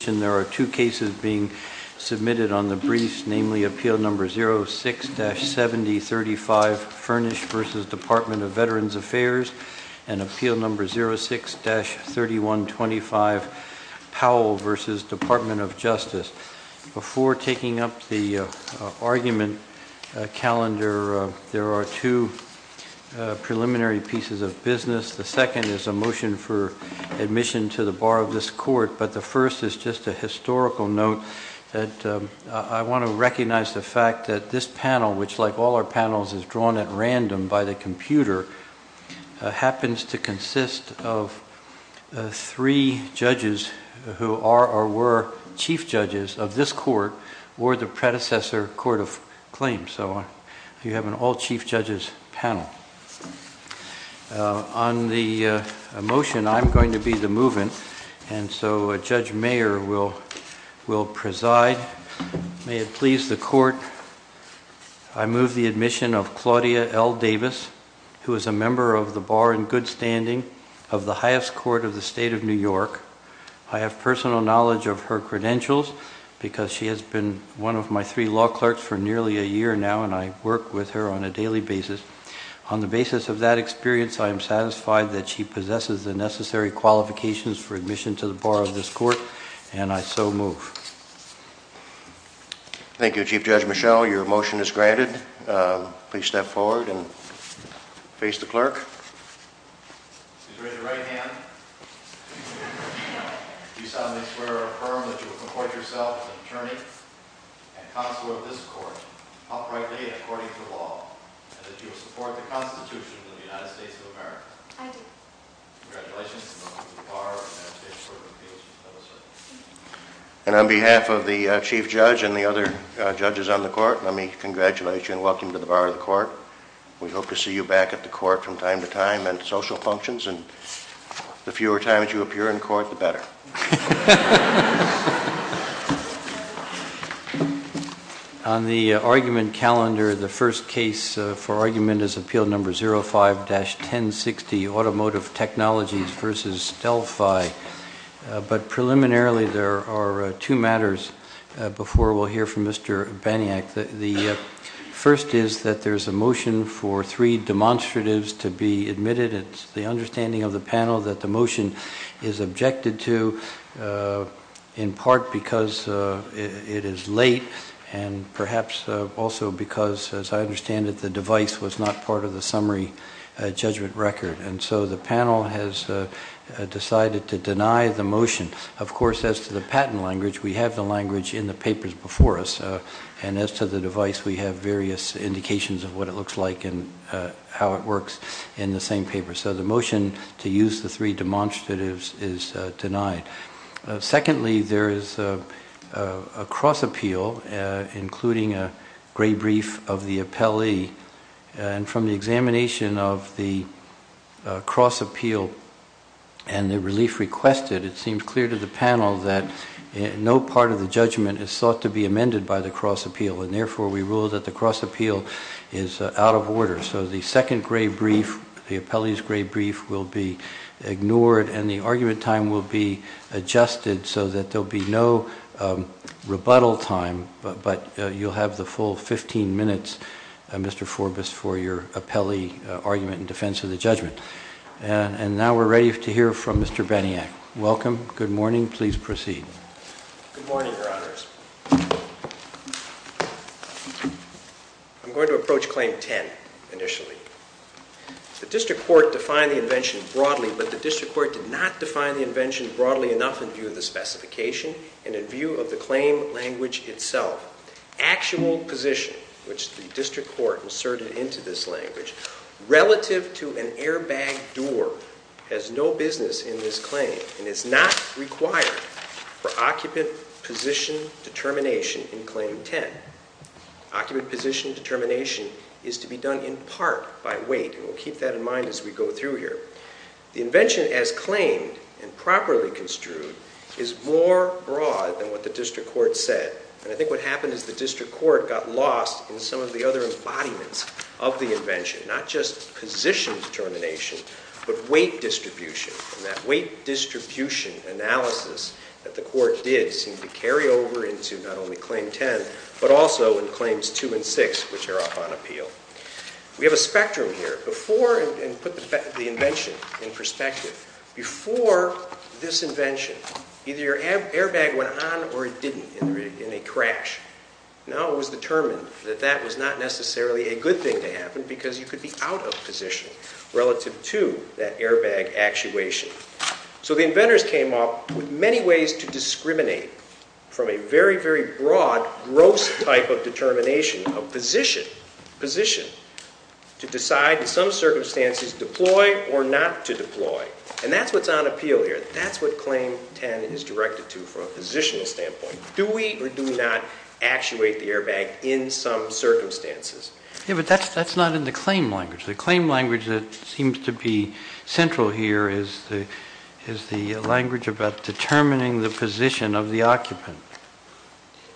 There are two cases being submitted on the briefs, namely Appeal No. 06-7035, Furnished v. Department of Veterans Affairs, and Appeal No. 06-3125, Powell v. Department of Justice. Before taking up the argument calendar, there are two preliminary pieces of business. The second is a motion for admission to the Bar of this Court, but the first is just a historical note that I want to recognize the fact that this panel, which, like all our panels, is drawn at random by the computer, happens to consist of three judges who are or were chief judges of this Court or the predecessor Court of Claims. So you have an all-chief judges panel. On the motion, I'm going to be the movant, and so Judge Mayer will preside. May it please the Court, I move the admission of Claudia L. Davis, who is a member of the Bar in good standing of the highest court of the State of New York. I have personal knowledge of her credentials because she has been one of my three law clerks for nearly a year now, and I work with her on a daily basis. On the basis of that experience, I am satisfied that she possesses the necessary qualifications for admission to the Bar of this Court, and I so move. Thank you, Chief Judge Michelle. Your motion is granted. Please step forward and face the clerk. She's raised her right hand. Do you solemnly swear or affirm that you will comport yourself as an attorney and consular of this Court, uprightly and according to law, and that you will support the Constitution of the United States of America? I do. Congratulations. And on behalf of the Chief Judge and the other judges on the Court, let me congratulate you and welcome you to the Bar of the Court. We hope to see you back at the Court from time to time and social functions, and the fewer times you appear in court, the better. On the argument calendar, the first case for argument is Appeal Number 05-1060, Automotive Technologies v. Delphi. But preliminarily, there are two matters before we'll hear from Mr. Baniak. The first is that there's a motion for three demonstratives to be admitted. It's the understanding of the panel that the motion is objected to in part because it is late and perhaps also because, as I understand it, the device was not part of the summary judgment record. And so the panel has decided to deny the motion. Of course, as to the patent language, we have the language in the papers before us. And as to the device, we have various indications of what it looks like and how it works in the same paper. So the motion to use the three demonstratives is denied. Secondly, there is a cross appeal, including a gray brief of the appellee. And from the examination of the cross appeal and the relief requested, it seems clear to the panel that no part of the judgment is sought to be amended by the cross appeal. And therefore, we rule that the cross appeal is out of order. So the second gray brief, the appellee's gray brief, will be ignored, and the argument time will be adjusted so that there will be no rebuttal time. But you'll have the full 15 minutes, Mr. Forbus, for your appellee argument in defense of the judgment. And now we're ready to hear from Mr. Beniak. Welcome. Good morning. Please proceed. Good morning, Your Honors. I'm going to approach Claim 10 initially. The district court defined the invention broadly, but the district court did not define the invention broadly enough in view of the specification and in view of the claim language itself. Actual position, which the district court inserted into this language, relative to an airbag door, has no business in this claim and is not required for occupant position determination in Claim 10. Occupant position determination is to be done in part by weight, and we'll keep that in mind as we go through here. The invention as claimed and properly construed is more broad than what the district court said. And I think what happened is the district court got lost in some of the other embodiments of the invention, not just position determination, but weight distribution. And that weight distribution analysis that the court did seem to carry over into not only Claim 10, but also in Claims 2 and 6, which are up on appeal. We have a spectrum here. Before, and put the invention in perspective, before this invention, either your airbag went on or it didn't in a crash. Now it was determined that that was not necessarily a good thing to happen because you could be out of position relative to that airbag actuation. So the inventors came up with many ways to discriminate from a very, very broad, gross type of determination of position, position, to decide in some circumstances to deploy or not to deploy. And that's what's on appeal here. That's what Claim 10 is directed to from a positional standpoint. Do we or do not actuate the airbag in some circumstances? Yeah, but that's not in the claim language. The claim language that seems to be central here is the language about determining the position of the occupant.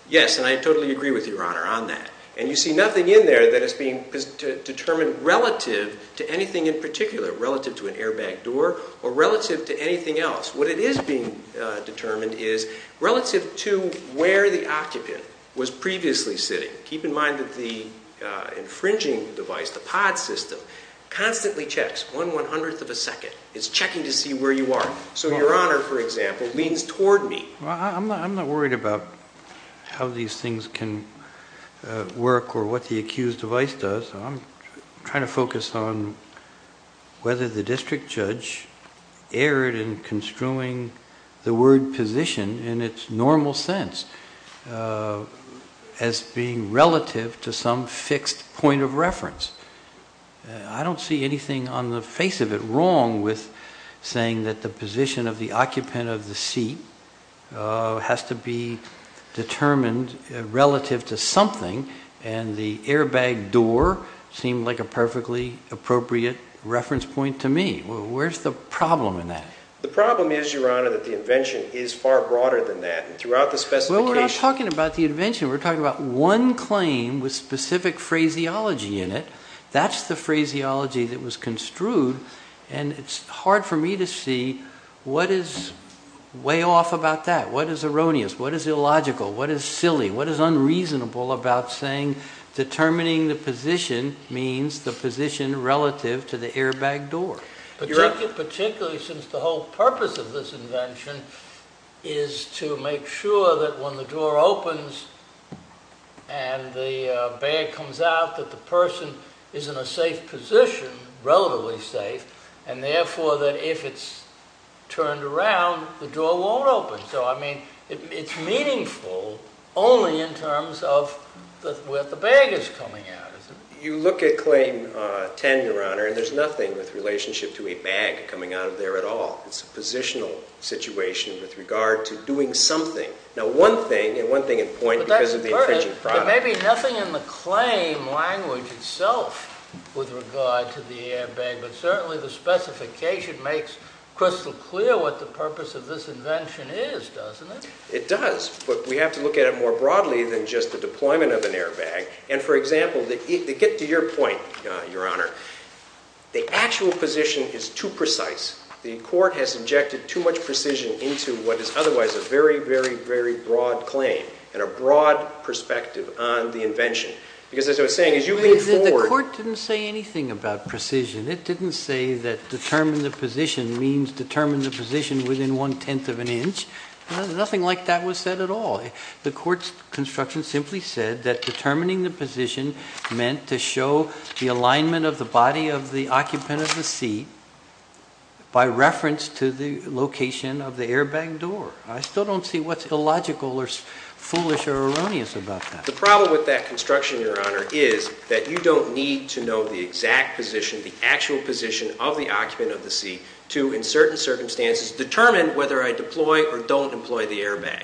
Yes, and I totally agree with you, Your Honor, on that. And you see nothing in there that is being determined relative to anything in particular, relative to an airbag door or relative to anything else. What it is being determined is relative to where the occupant was previously sitting. Keep in mind that the infringing device, the pod system, constantly checks one one-hundredth of a second. It's checking to see where you are. So Your Honor, for example, leans toward me. Well, I'm not worried about how these things can work or what the accused device does. I'm trying to focus on whether the district judge erred in construing the word position in its normal sense as being relative to some fixed point of reference. I don't see anything on the face of it wrong with saying that the position of the occupant of the seat has to be determined relative to something. And the airbag door seemed like a perfectly appropriate reference point to me. Where's the problem in that? The problem is, Your Honor, that the invention is far broader than that. And throughout the specification… Well, we're not talking about the invention. We're talking about one claim with specific phraseology in it. That's the phraseology that was construed. And it's hard for me to see what is way off about that. What is erroneous? What is illogical? What is silly? What is unreasonable about saying determining the position means the position relative to the airbag door? Particularly since the whole purpose of this invention is to make sure that when the door opens and the bag comes out that the person is in a safe position, relatively safe, and therefore that if it's turned around, the door won't open. So, I mean, it's meaningful only in terms of where the bag is coming out. You look at Claim 10, Your Honor, and there's nothing with relationship to a bag coming out of there at all. It's a positional situation with regard to doing something. Now, one thing, and one thing in point because of the… But that's important. There may be nothing in the claim language itself with regard to the airbag. But certainly the specification makes crystal clear what the purpose of this invention is, doesn't it? It does. But we have to look at it more broadly than just the deployment of an airbag. And, for example, to get to your point, Your Honor, the actual position is too precise. The court has injected too much precision into what is otherwise a very, very, very broad claim and a broad perspective on the invention. Because as I was saying, as you move forward… The court didn't say anything about precision. It didn't say that determine the position means determine the position within one-tenth of an inch. Nothing like that was said at all. The court's construction simply said that determining the position meant to show the alignment of the body of the occupant of the seat by reference to the location of the airbag door. I still don't see what's illogical or foolish or erroneous about that. The problem with that construction, Your Honor, is that you don't need to know the exact position, the actual position of the occupant of the seat, to, in certain circumstances, determine whether I deploy or don't deploy the airbag.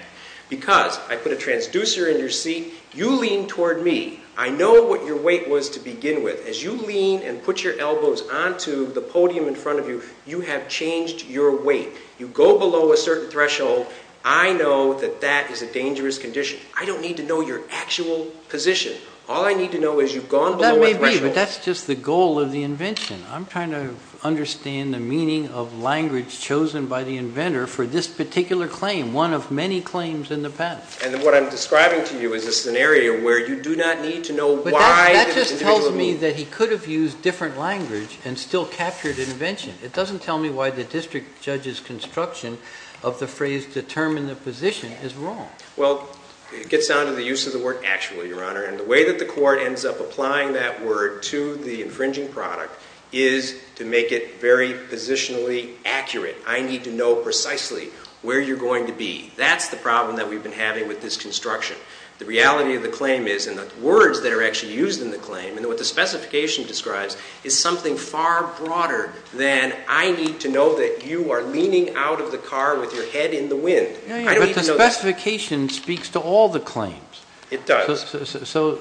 Because I put a transducer in your seat, you lean toward me. I know what your weight was to begin with. As you lean and put your elbows onto the podium in front of you, you have changed your weight. You go below a certain threshold. I know that that is a dangerous condition. I don't need to know your actual position. All I need to know is you've gone below a threshold. That may be, but that's just the goal of the invention. I'm trying to understand the meaning of language chosen by the inventor for this particular claim, one of many claims in the past. And what I'm describing to you is a scenario where you do not need to know why the individual moved. But that just tells me that he could have used different language and still captured invention. It doesn't tell me why the district judge's construction of the phrase determine the position is wrong. Well, it gets down to the use of the word actually, Your Honor. And the way that the court ends up applying that word to the infringing product is to make it very positionally accurate. I need to know precisely where you're going to be. That's the problem that we've been having with this construction. The reality of the claim is, and the words that are actually used in the claim and what the specification describes, is something far broader than I need to know that you are leaning out of the car with your head in the wind. I don't even know that. But the specification speaks to all the claims. It does. So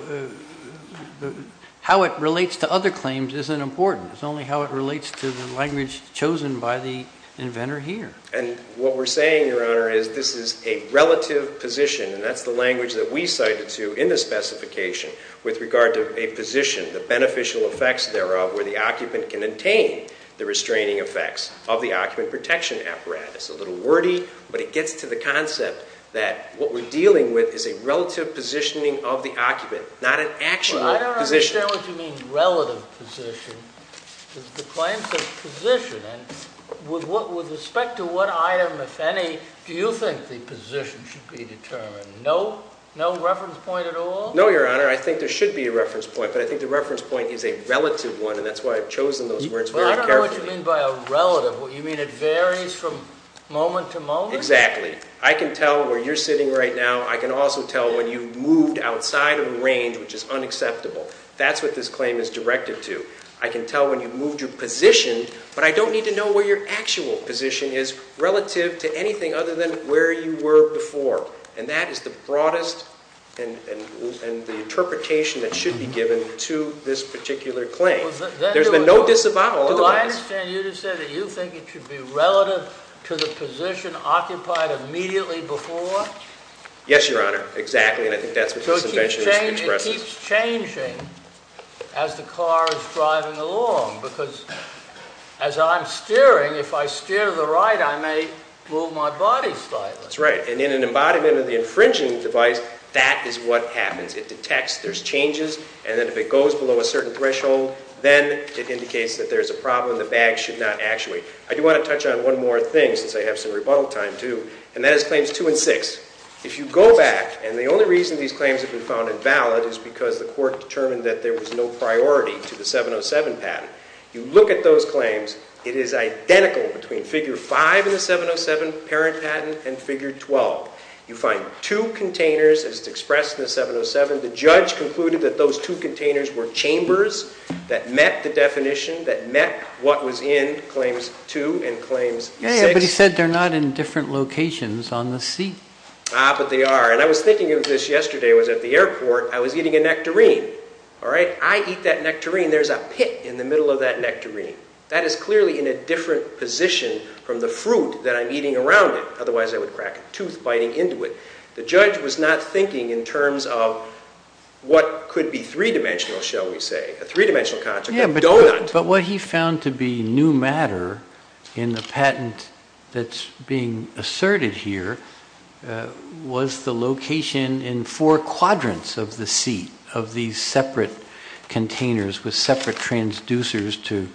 how it relates to other claims isn't important. It's only how it relates to the language chosen by the inventor here. And what we're saying, Your Honor, is this is a relative position, and that's the language that we cited to in the specification with regard to a position, the beneficial effects thereof where the occupant can attain the restraining effects of the occupant protection apparatus. It's a little wordy, but it gets to the concept that what we're dealing with is a relative positioning of the occupant, not an actual position. Well, I don't understand what you mean, relative position. The claim says position, and with respect to what item, if any, do you think the position should be determined? No reference point at all? No, Your Honor. I think there should be a reference point, but I think the reference point is a relative one, and that's why I've chosen those words very carefully. I don't know what you mean by a relative. You mean it varies from moment to moment? Exactly. I can tell where you're sitting right now. I can also tell when you've moved outside of the range, which is unacceptable. That's what this claim is directed to. I can tell when you've moved your position, but I don't need to know where your actual position is relative to anything other than where you were before, and that is the broadest and the interpretation that should be given to this particular claim. There's been no disavowal otherwise. Do I understand you to say that you think it should be relative to the position occupied immediately before? Yes, Your Honor, exactly, and I think that's what this invention expresses. So it keeps changing as the car is driving along, because as I'm steering, if I steer to the right, I may move my body slightly. That's right, and in an embodiment of the infringing device, that is what happens. It detects there's changes, and then if it goes below a certain threshold, then it indicates that there's a problem. The bag should not actuate. I do want to touch on one more thing since I have some rebuttal time, too, and that is Claims 2 and 6. If you go back, and the only reason these claims have been found invalid is because the court determined that there was no priority to the 707 patent. You look at those claims. It is identical between Figure 5 in the 707 parent patent and Figure 12. You find two containers, as expressed in the 707. The judge concluded that those two containers were chambers that met the definition, that met what was in Claims 2 and Claims 6. Yeah, but he said they're not in different locations on the seat. Ah, but they are, and I was thinking of this yesterday. I was at the airport. I was eating a nectarine, all right? I eat that nectarine. There's a pit in the middle of that nectarine. That is clearly in a different position from the fruit that I'm eating around it. Otherwise, I would crack a tooth biting into it. The judge was not thinking in terms of what could be three-dimensional, shall we say, a three-dimensional concept. Yeah, but what he found to be new matter in the patent that's being asserted here was the location in four quadrants of the seat of these separate containers with separate transducers to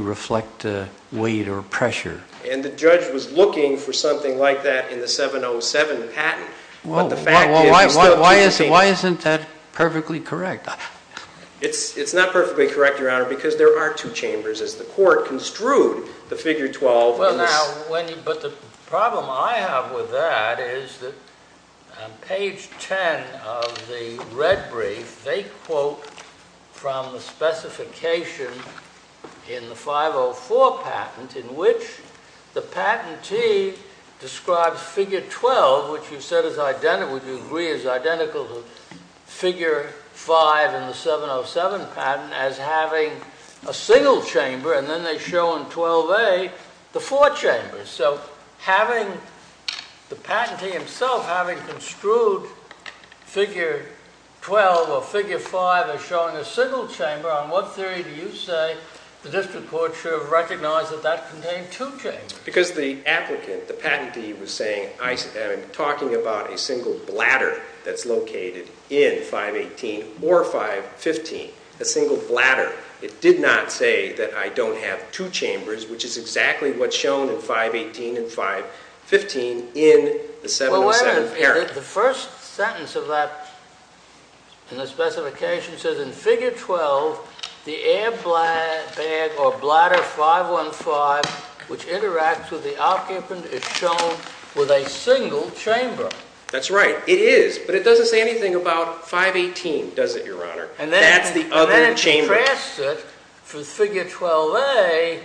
reflect weight or pressure. And the judge was looking for something like that in the 707 patent. Well, why isn't that perfectly correct? It's not perfectly correct, Your Honor, because there are two chambers as the court construed the Figure 12. But the problem I have with that is that on page 10 of the red brief, they quote from the specification in the 504 patent in which the patentee describes Figure 12, which we agree is identical to Figure 5 in the 707 patent, as having a single chamber. And then they show in 12A the four chambers. So having the patentee himself having construed Figure 12 or Figure 5 as showing a single chamber, on what theory do you say the district court should have recognized that that contained two chambers? Because the applicant, the patentee, was saying, I am talking about a single bladder that's located in 518 or 515, a single bladder. It did not say that I don't have two chambers, which is exactly what's shown in 518 and 515 in the 707 parent. Well, wait a minute. The first sentence of that in the specification says, in Figure 12, the air bag or bladder 515, which interacts with the occupant, is shown with a single chamber. That's right. It is. But it doesn't say anything about 518, does it, Your Honor? That's the other chamber. And then it contrasts it with Figure 12A,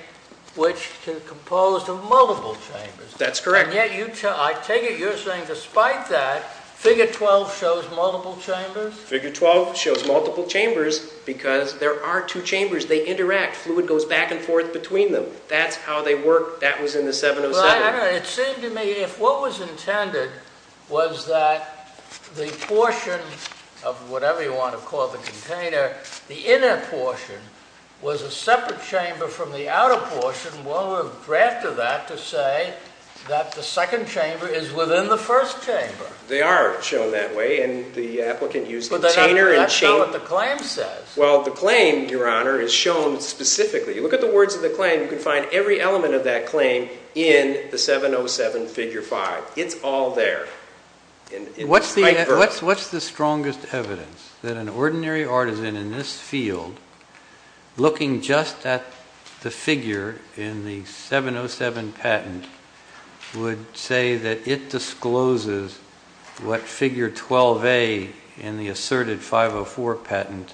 which is composed of multiple chambers. That's correct. And yet, I take it you're saying despite that, Figure 12 shows multiple chambers? Figure 12 shows multiple chambers because there are two chambers. They interact. Fluid goes back and forth between them. That's how they work. That was in the 707. It seemed to me if what was intended was that the portion of whatever you want to call the container, the inner portion was a separate chamber from the outer portion, one would have drafted that to say that the second chamber is within the first chamber. They are shown that way, and the applicant used the container and chamber. But that's not what the claim says. Well, the claim, Your Honor, is shown specifically. Look at the words of the claim. You can find every element of that claim in the 707, Figure 5. It's all there. What's the strongest evidence that an ordinary artisan in this field, looking just at the figure in the 707 patent, would say that it discloses what Figure 12A in the asserted 504 patent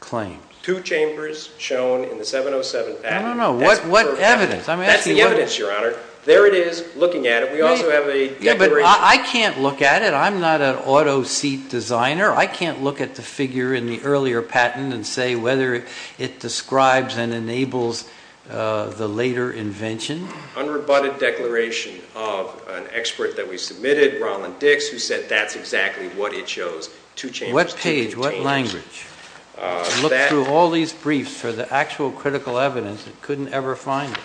claims? Two chambers shown in the 707 patent. No, no, no. What evidence? That's the evidence, Your Honor. There it is, looking at it. We also have a declaration. I can't look at it. I'm not an auto seat designer. I can't look at the figure in the earlier patent and say whether it describes and enables the later invention. Unrebutted declaration of an expert that we submitted, Roland Dix, who said that's exactly what it shows, two chambers, two containers. What page? What language? Look through all these briefs for the actual critical evidence that couldn't ever find it.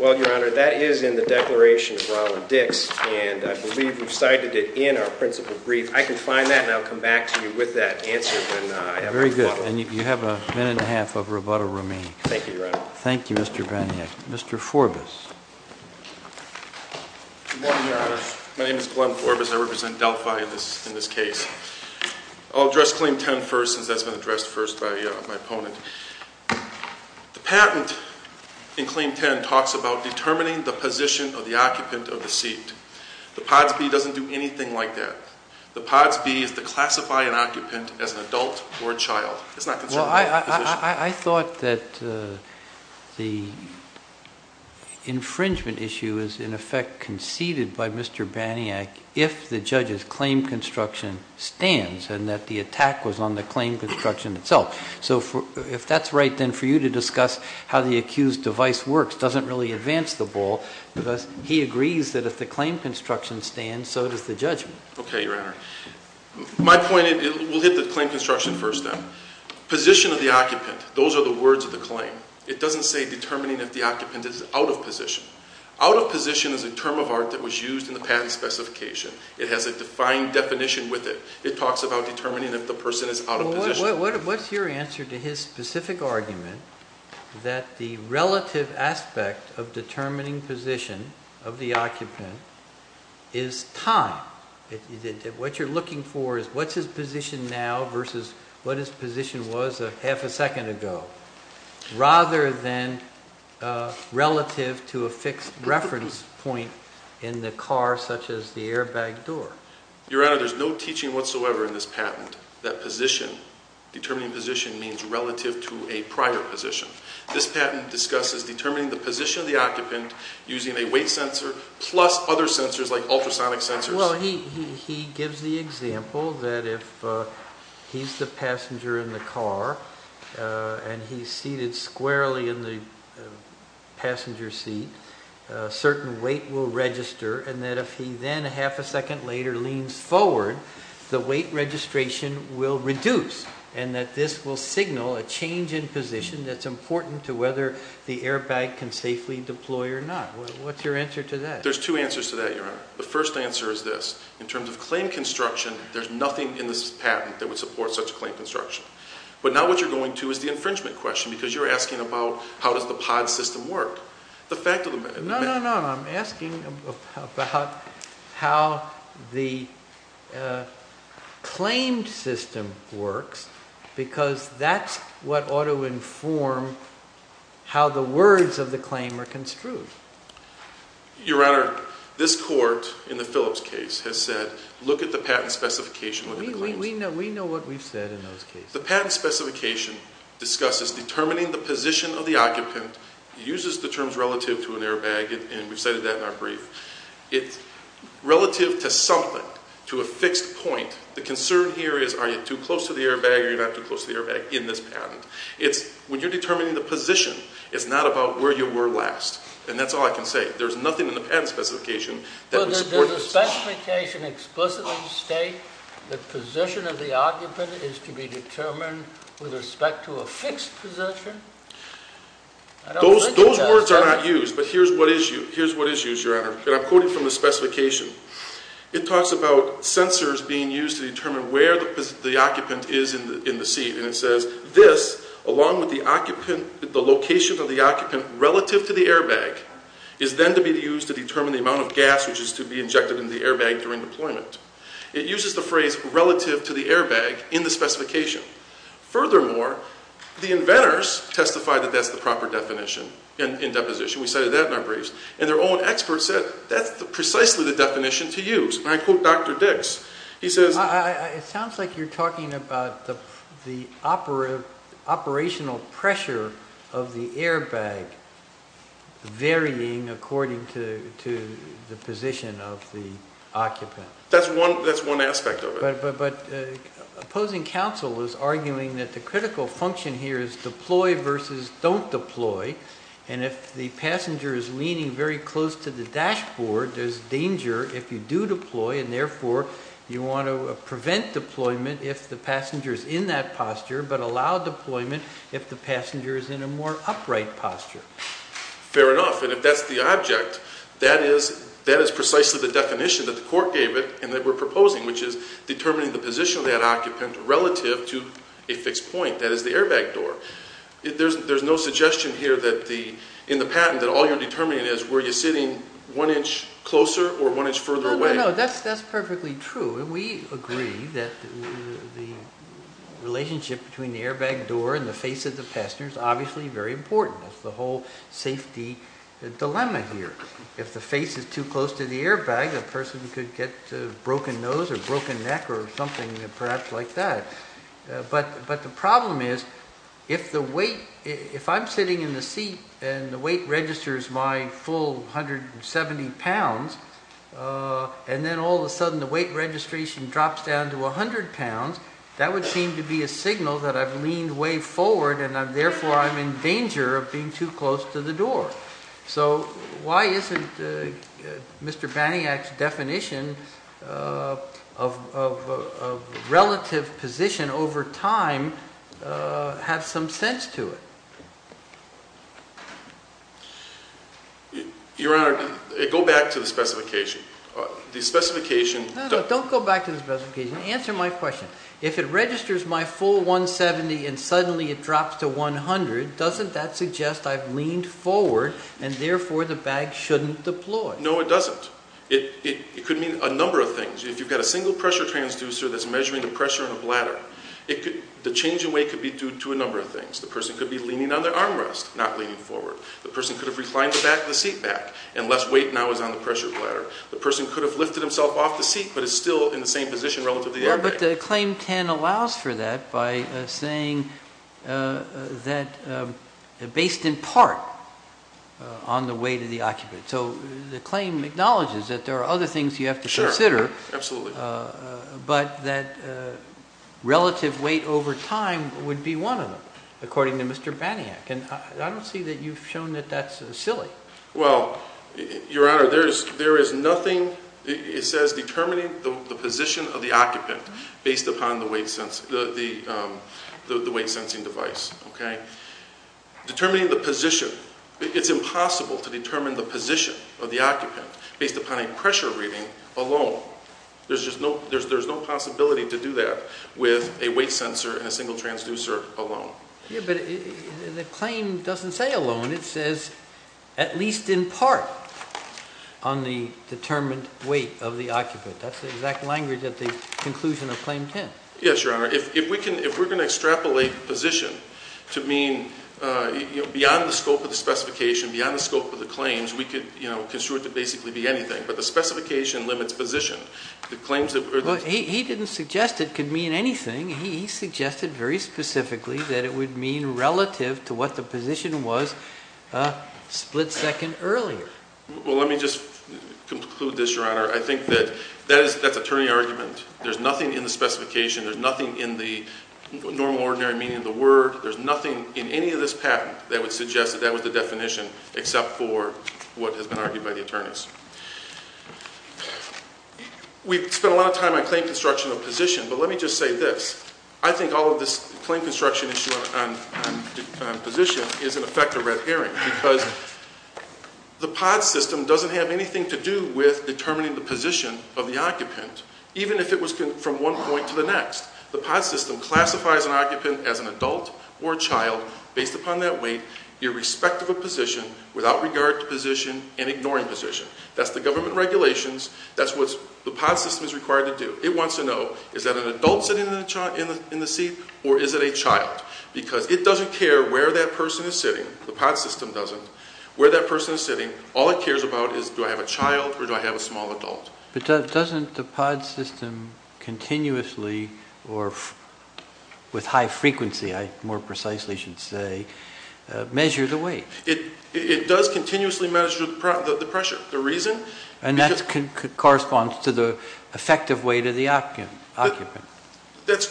Well, Your Honor, that is in the declaration of Roland Dix, and I believe we've cited it in our principal brief. I can find that, and I'll come back to you with that answer when I have a rebuttal. Very good. And you have a minute and a half of rebuttal remaining. Thank you, Your Honor. Thank you, Mr. Paniak. Mr. Forbus. Good morning, Your Honor. My name is Glen Forbus. I represent Delphi in this case. I'll address Claim 10 first since that's been addressed first by my opponent. The patent in Claim 10 talks about determining the position of the occupant of the seat. The POTSB doesn't do anything like that. The POTSB is to classify an occupant as an adult or a child. It's not concerned with position. I thought that the infringement issue is, in effect, conceded by Mr. Paniak if the judge's claim construction stands and that the attack was on the claim construction itself. So if that's right, then for you to discuss how the accused device works doesn't really advance the ball because he agrees that if the claim construction stands, so does the judgment. Okay, Your Honor. My point, we'll hit the claim construction first, then. Position of the occupant, those are the words of the claim. It doesn't say determining if the occupant is out of position. Out of position is a term of art that was used in the patent specification. It has a defined definition with it. It talks about determining if the person is out of position. What's your answer to his specific argument that the relative aspect of determining position of the occupant is time? What you're looking for is what's his position now versus what his position was half a second ago, rather than relative to a fixed reference point in the car such as the airbag door. Your Honor, there's no teaching whatsoever in this patent that determining position means relative to a prior position. This patent discusses determining the position of the occupant using a weight sensor plus other sensors like ultrasonic sensors. Well, he gives the example that if he's the passenger in the car and he's seated squarely in the passenger seat, a certain weight will register and that if he then half a second later leans forward, the weight registration will reduce and that this will signal a change in position that's important to whether the airbag can safely deploy or not. What's your answer to that? The first answer is this. In terms of claim construction, there's nothing in this patent that would support such a claim construction. But now what you're going to is the infringement question because you're asking about how does the pod system work. No, no, no. I'm asking about how the claimed system works because that's what ought to inform how the words of the claim are construed. Your Honor, this court in the Phillips case has said look at the patent specification. We know what we've said in those cases. The patent specification discusses determining the position of the occupant. It uses the terms relative to an airbag and we've said that in our brief. It's relative to something, to a fixed point. The concern here is are you too close to the airbag or you're not too close to the airbag in this patent. When you're determining the position, it's not about where you were last. And that's all I can say. There's nothing in the patent specification that would support this. Does the specification explicitly state the position of the occupant is to be determined with respect to a fixed position? Those words are not used but here's what is used, Your Honor. And I'm quoting from the specification. It talks about sensors being used to determine where the occupant is in the seat. And it says this along with the location of the occupant relative to the airbag is then to be used to determine the amount of gas which is to be injected into the airbag during deployment. It uses the phrase relative to the airbag in the specification. Furthermore, the inventors testified that that's the proper definition in deposition. We cited that in our briefs. And their own experts said that's precisely the definition to use. And I quote Dr. Dix. It sounds like you're talking about the operational pressure of the airbag varying according to the position of the occupant. That's one aspect of it. But opposing counsel is arguing that the critical function here is deploy versus don't deploy. And if the passenger is leaning very close to the dashboard, there's danger if you do deploy. And, therefore, you want to prevent deployment if the passenger is in that posture but allow deployment if the passenger is in a more upright posture. Fair enough. And if that's the object, that is precisely the definition that the court gave it and that we're proposing, which is determining the position of that occupant relative to a fixed point. That is the airbag door. There's no suggestion here in the patent that all you're determining is were you sitting one inch closer or one inch further away. No, no, no. That's perfectly true. And we agree that the relationship between the airbag door and the face of the passenger is obviously very important. That's the whole safety dilemma here. If the face is too close to the airbag, a person could get a broken nose or broken neck or something perhaps like that. But the problem is if I'm sitting in the seat and the weight registers my full 170 pounds and then all of a sudden the weight registration drops down to 100 pounds, that would seem to be a signal that I've leaned way forward and, therefore, I'm in danger of being too close to the door. So why isn't Mr. Baniak's definition of relative position over time have some sense to it? Your Honor, go back to the specification. The specification... No, no. Don't go back to the specification. Answer my question. If it registers my full 170 and suddenly it drops to 100, doesn't that suggest I've leaned forward and, therefore, the bag shouldn't deploy? No, it doesn't. It could mean a number of things. If you've got a single pressure transducer that's measuring the pressure in the bladder, the change in weight could be due to a number of things. The person could be leaning on their armrest, not leaning forward. The person could have reclined the back of the seat back and less weight now is on the pressure bladder. The person could have lifted himself off the seat but is still in the same position relative to the airbag. Yeah, but the Claim 10 allows for that by saying that based in part on the weight of the occupant. So the claim acknowledges that there are other things you have to consider. Sure. Absolutely. But that relative weight over time would be one of them, according to Mr. Baniak. And I don't see that you've shown that that's silly. Well, Your Honor, there is nothing. It says determining the position of the occupant based upon the weight sensing device. Okay? Determining the position, it's impossible to determine the position of the occupant based upon a pressure reading alone. There's no possibility to do that with a weight sensor and a single transducer alone. Yeah, but the claim doesn't say alone. It says at least in part on the determined weight of the occupant. That's the exact language at the conclusion of Claim 10. Yes, Your Honor. If we're going to extrapolate position to mean beyond the scope of the specification, beyond the scope of the claims, we could construe it to basically be anything. But the specification limits position. Well, he didn't suggest it could mean anything. He suggested very specifically that it would mean relative to what the position was a split second earlier. Well, let me just conclude this, Your Honor. I think that that's attorney argument. There's nothing in the specification. There's nothing in the normal ordinary meaning of the word. There's nothing in any of this patent that would suggest that that was the definition except for what has been argued by the attorneys. We've spent a lot of time on claim construction of position, but let me just say this. I think all of this claim construction issue on position is in effect a red herring because the pod system doesn't have anything to do with determining the position of the occupant, even if it was from one point to the next. The pod system classifies an occupant as an adult or a child based upon that weight, irrespective of position, without regard to position, and ignoring position. That's the government regulations. That's what the pod system is required to do. It wants to know is that an adult sitting in the seat or is it a child? Because it doesn't care where that person is sitting. The pod system doesn't. Where that person is sitting, all it cares about is do I have a child or do I have a small adult. But doesn't the pod system continuously or with high frequency, I more precisely should say, measure the weight? It does continuously measure the pressure. The reason? And that corresponds to the effective weight of the occupant. It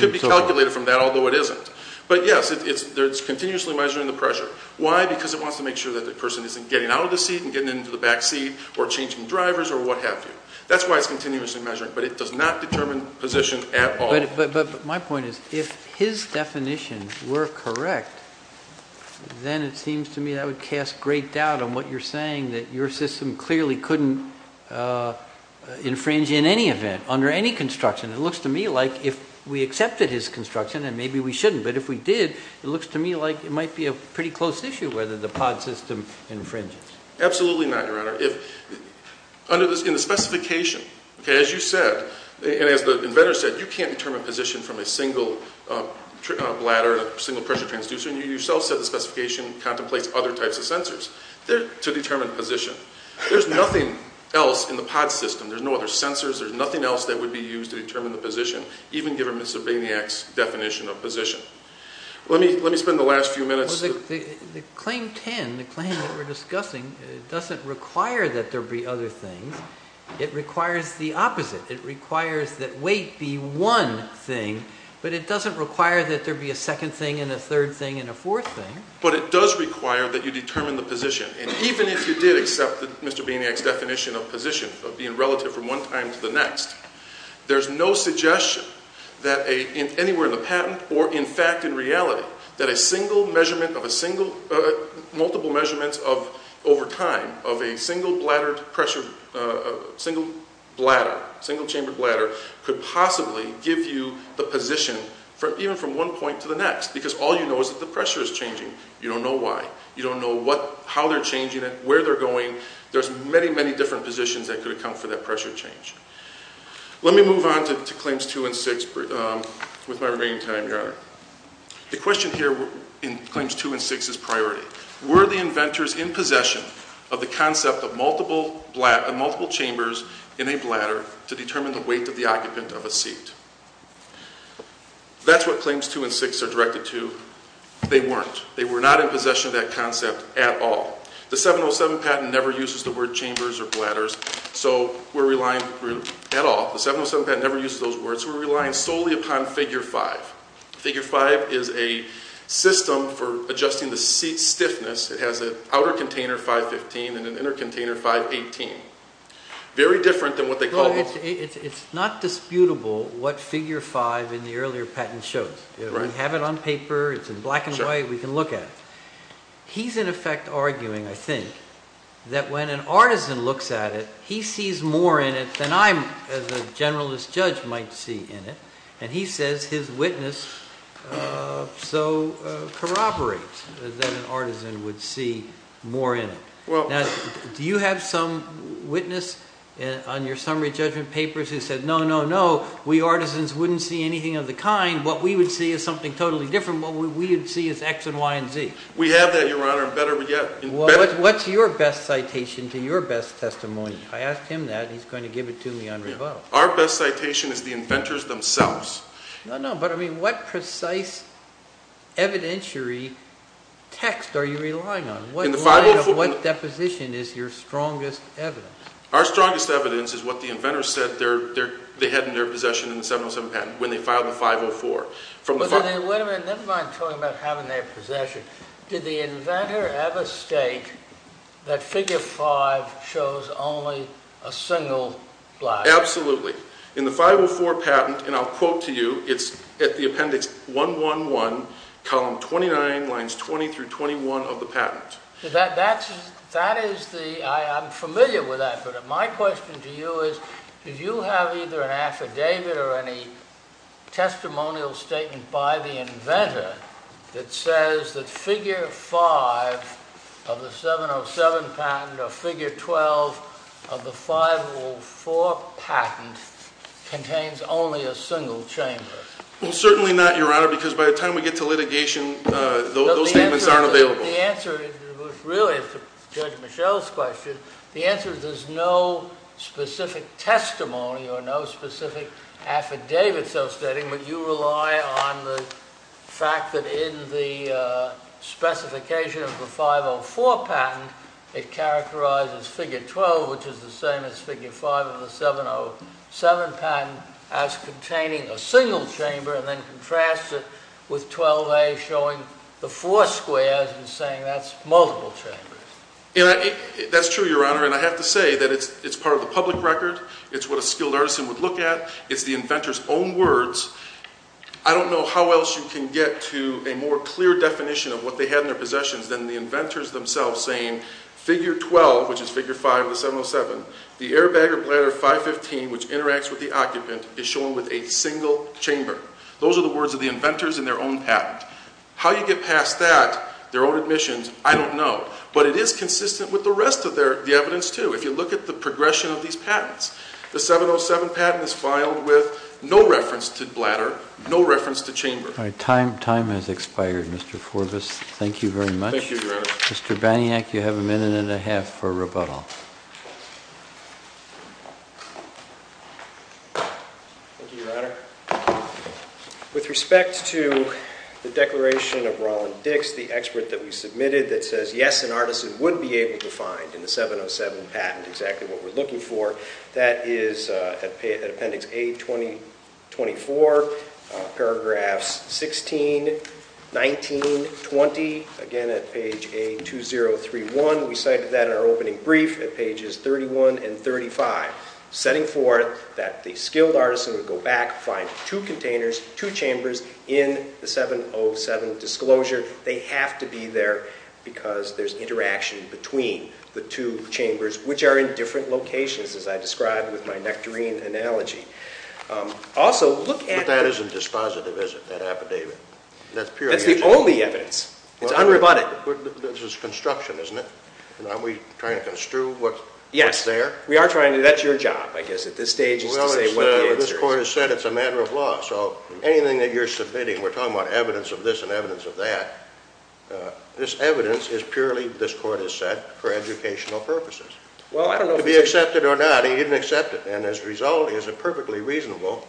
could be calculated from that, although it isn't. But, yes, it's continuously measuring the pressure. Why? Because it wants to make sure that the person isn't getting out of the seat and getting into the back seat or changing drivers or what have you. That's why it's continuously measuring. But it does not determine position at all. But my point is if his definitions were correct, then it seems to me that would cast great doubt on what you're saying, that your system clearly couldn't infringe in any event under any construction. It looks to me like if we accepted his construction, then maybe we shouldn't. But if we did, it looks to me like it might be a pretty close issue whether the pod system infringes. Absolutely not, Your Honor. In the specification, as you said, and as the inventor said, you can't determine position from a single bladder, a single pressure transducer. And you yourself said the specification contemplates other types of sensors to determine position. There's nothing else in the pod system. There's no other sensors. There's nothing else that would be used to determine the position, even given Mr. Bainiak's definition of position. Let me spend the last few minutes. The Claim 10, the claim that we're discussing, doesn't require that there be other things. It requires the opposite. It requires that weight be one thing, but it doesn't require that there be a second thing and a third thing and a fourth thing. But it does require that you determine the position. And even if you did accept Mr. Bainiak's definition of position, of being relative from one time to the next, there's no suggestion that anywhere in the patent or, in fact, in reality, that a single measurement of a single—multiple measurements over time of a single bladder, single chamber bladder, could possibly give you the position, even from one point to the next, because all you know is that the pressure is changing. You don't know why. You don't know how they're changing it, where they're going. There's many, many different positions that could account for that pressure change. Let me move on to Claims 2 and 6 with my remaining time, Your Honor. The question here in Claims 2 and 6 is priority. Were the inventors in possession of the concept of multiple chambers in a bladder to determine the weight of the occupant of a seat? That's what Claims 2 and 6 are directed to. They weren't. They were not in possession of that concept at all. The 707 patent never uses the word chambers or bladders at all. The 707 patent never uses those words. We're relying solely upon Figure 5. Figure 5 is a system for adjusting the seat stiffness. It has an outer container, 515, and an inner container, 518. Very different than what they call— It's not disputable what Figure 5 in the earlier patent shows. We have it on paper. It's in black and white. We can look at it. He's, in effect, arguing, I think, that when an artisan looks at it, he sees more in it than I, as a generalist judge, might see in it. And he says his witness so corroborates that an artisan would see more in it. Now, do you have some witness on your summary judgment papers who said, no, no, no, we artisans wouldn't see anything of the kind? What we would see is something totally different. What we would see is X and Y and Z. We have that, Your Honor, and better yet— Well, what's your best citation to your best testimony? I asked him that, and he's going to give it to me on rebuttal. Our best citation is the inventors themselves. No, no, but, I mean, what precise evidentiary text are you relying on? In the 504— What line of what deposition is your strongest evidence? Our strongest evidence is what the inventors said they had in their possession in the 707 patent when they filed the 504. Wait a minute, never mind talking about having their possession. Did the inventor ever state that figure 5 shows only a single black line? Absolutely. In the 504 patent, and I'll quote to you, it's at the appendix 111, column 29, lines 20 through 21 of the patent. I'm familiar with that, but my question to you is, did you have either an affidavit or any testimonial statement by the inventor that says that figure 5 of the 707 patent or figure 12 of the 504 patent contains only a single chamber? Well, certainly not, Your Honor, because by the time we get to litigation, those statements aren't available. The answer, really, to Judge Michel's question, the answer is there's no specific testimony or no specific affidavit so stating, but you rely on the fact that in the specification of the 504 patent, it characterizes figure 12, which is the same as figure 5 of the 707 patent, as containing a single chamber and then contrasts it with 12A showing the four squares and saying that's multiple chambers. That's true, Your Honor, and I have to say that it's part of the public record. It's what a skilled artisan would look at. It's the inventor's own words. I don't know how else you can get to a more clear definition of what they had in their possessions than the inventors themselves saying figure 12, which is figure 5 of the 707, the airbag or bladder 515, which interacts with the occupant, is shown with a single chamber. Those are the words of the inventors in their own patent. How you get past that, their own admissions, I don't know, but it is consistent with the rest of the evidence, too. If you look at the progression of these patents, the 707 patent is filed with no reference to bladder, no reference to chamber. All right. Time has expired, Mr. Forbus. Thank you very much. Thank you, Your Honor. Mr. Baniak, you have a minute and a half for rebuttal. Thank you, Your Honor. With respect to the declaration of Roland Dix, the expert that we submitted that says, yes, an artisan would be able to find in the 707 patent exactly what we're looking for, that is at Appendix A-2024, paragraphs 16, 19, 20, again at page A-2031. We cited that in our opening brief at pages 31 and 35, setting forth that the skilled artisan would go back, find two containers, two chambers in the 707 disclosure. They have to be there because there's interaction between the two chambers, which are in different locations, as I described with my nectarine analogy. Also, look at- But that isn't dispositive, is it, that affidavit? That's purely- That's the only evidence. It's unrebutted. This is construction, isn't it? Are we trying to construe what's there? Yes. We are trying to. That's your job, I guess, at this stage is to say what the answer is. Well, this Court has said it's a matter of law, so anything that you're submitting, we're talking about evidence of this and evidence of that, this evidence is purely, this Court has said, for educational purposes. Well, I don't know- To be accepted or not, he didn't accept it, and as a result, it is a perfectly reasonable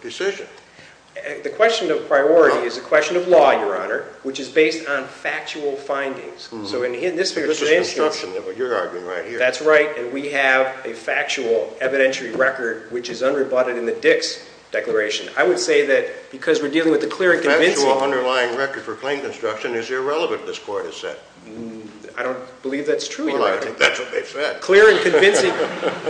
decision. The question of priority is a question of law, Your Honor, which is based on factual findings. So in this case- This is construction, what you're arguing right here. That's right, and we have a factual evidentiary record which is unrebutted in the Dix Declaration. I would say that because we're dealing with the clear and convincing- The factual underlying record for plain construction is irrelevant, this Court has said. I don't believe that's true, Your Honor. Well, that's what they said. Clear and convincing,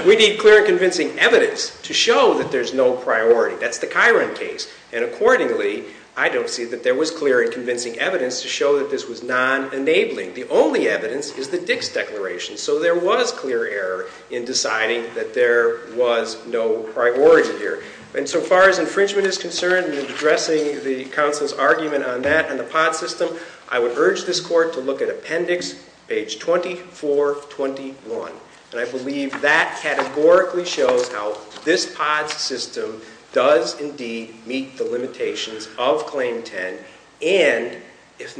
we need clear and convincing evidence to show that there's no priority. That's the Chiron case, and accordingly, I don't see that there was clear and convincing evidence to show that this was non-enabling. The only evidence is the Dix Declaration, so there was clear error in deciding that there was no priority here. And so far as infringement is concerned, in addressing the counsel's argument on that and the POD system, I would urge this Court to look at Appendix page 2421, and I believe that categorically shows how this POD system does indeed meet the limitations of Claim 10, and if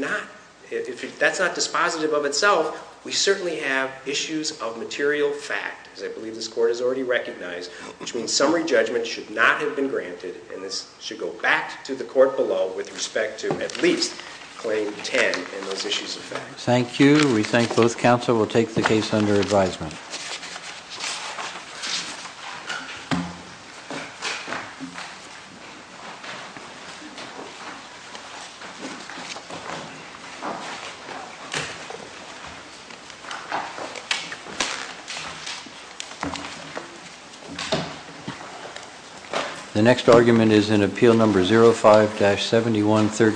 that's not dispositive of itself, we certainly have issues of material fact, as I believe this Court has already recognized, which means summary judgment should not have been granted, and this should go back to the Court below with respect to at least Claim 10 and those issues of fact. Thank you. We thank both counsel. We'll take the case under advisement. The next argument is in Appeal No. 05-7113.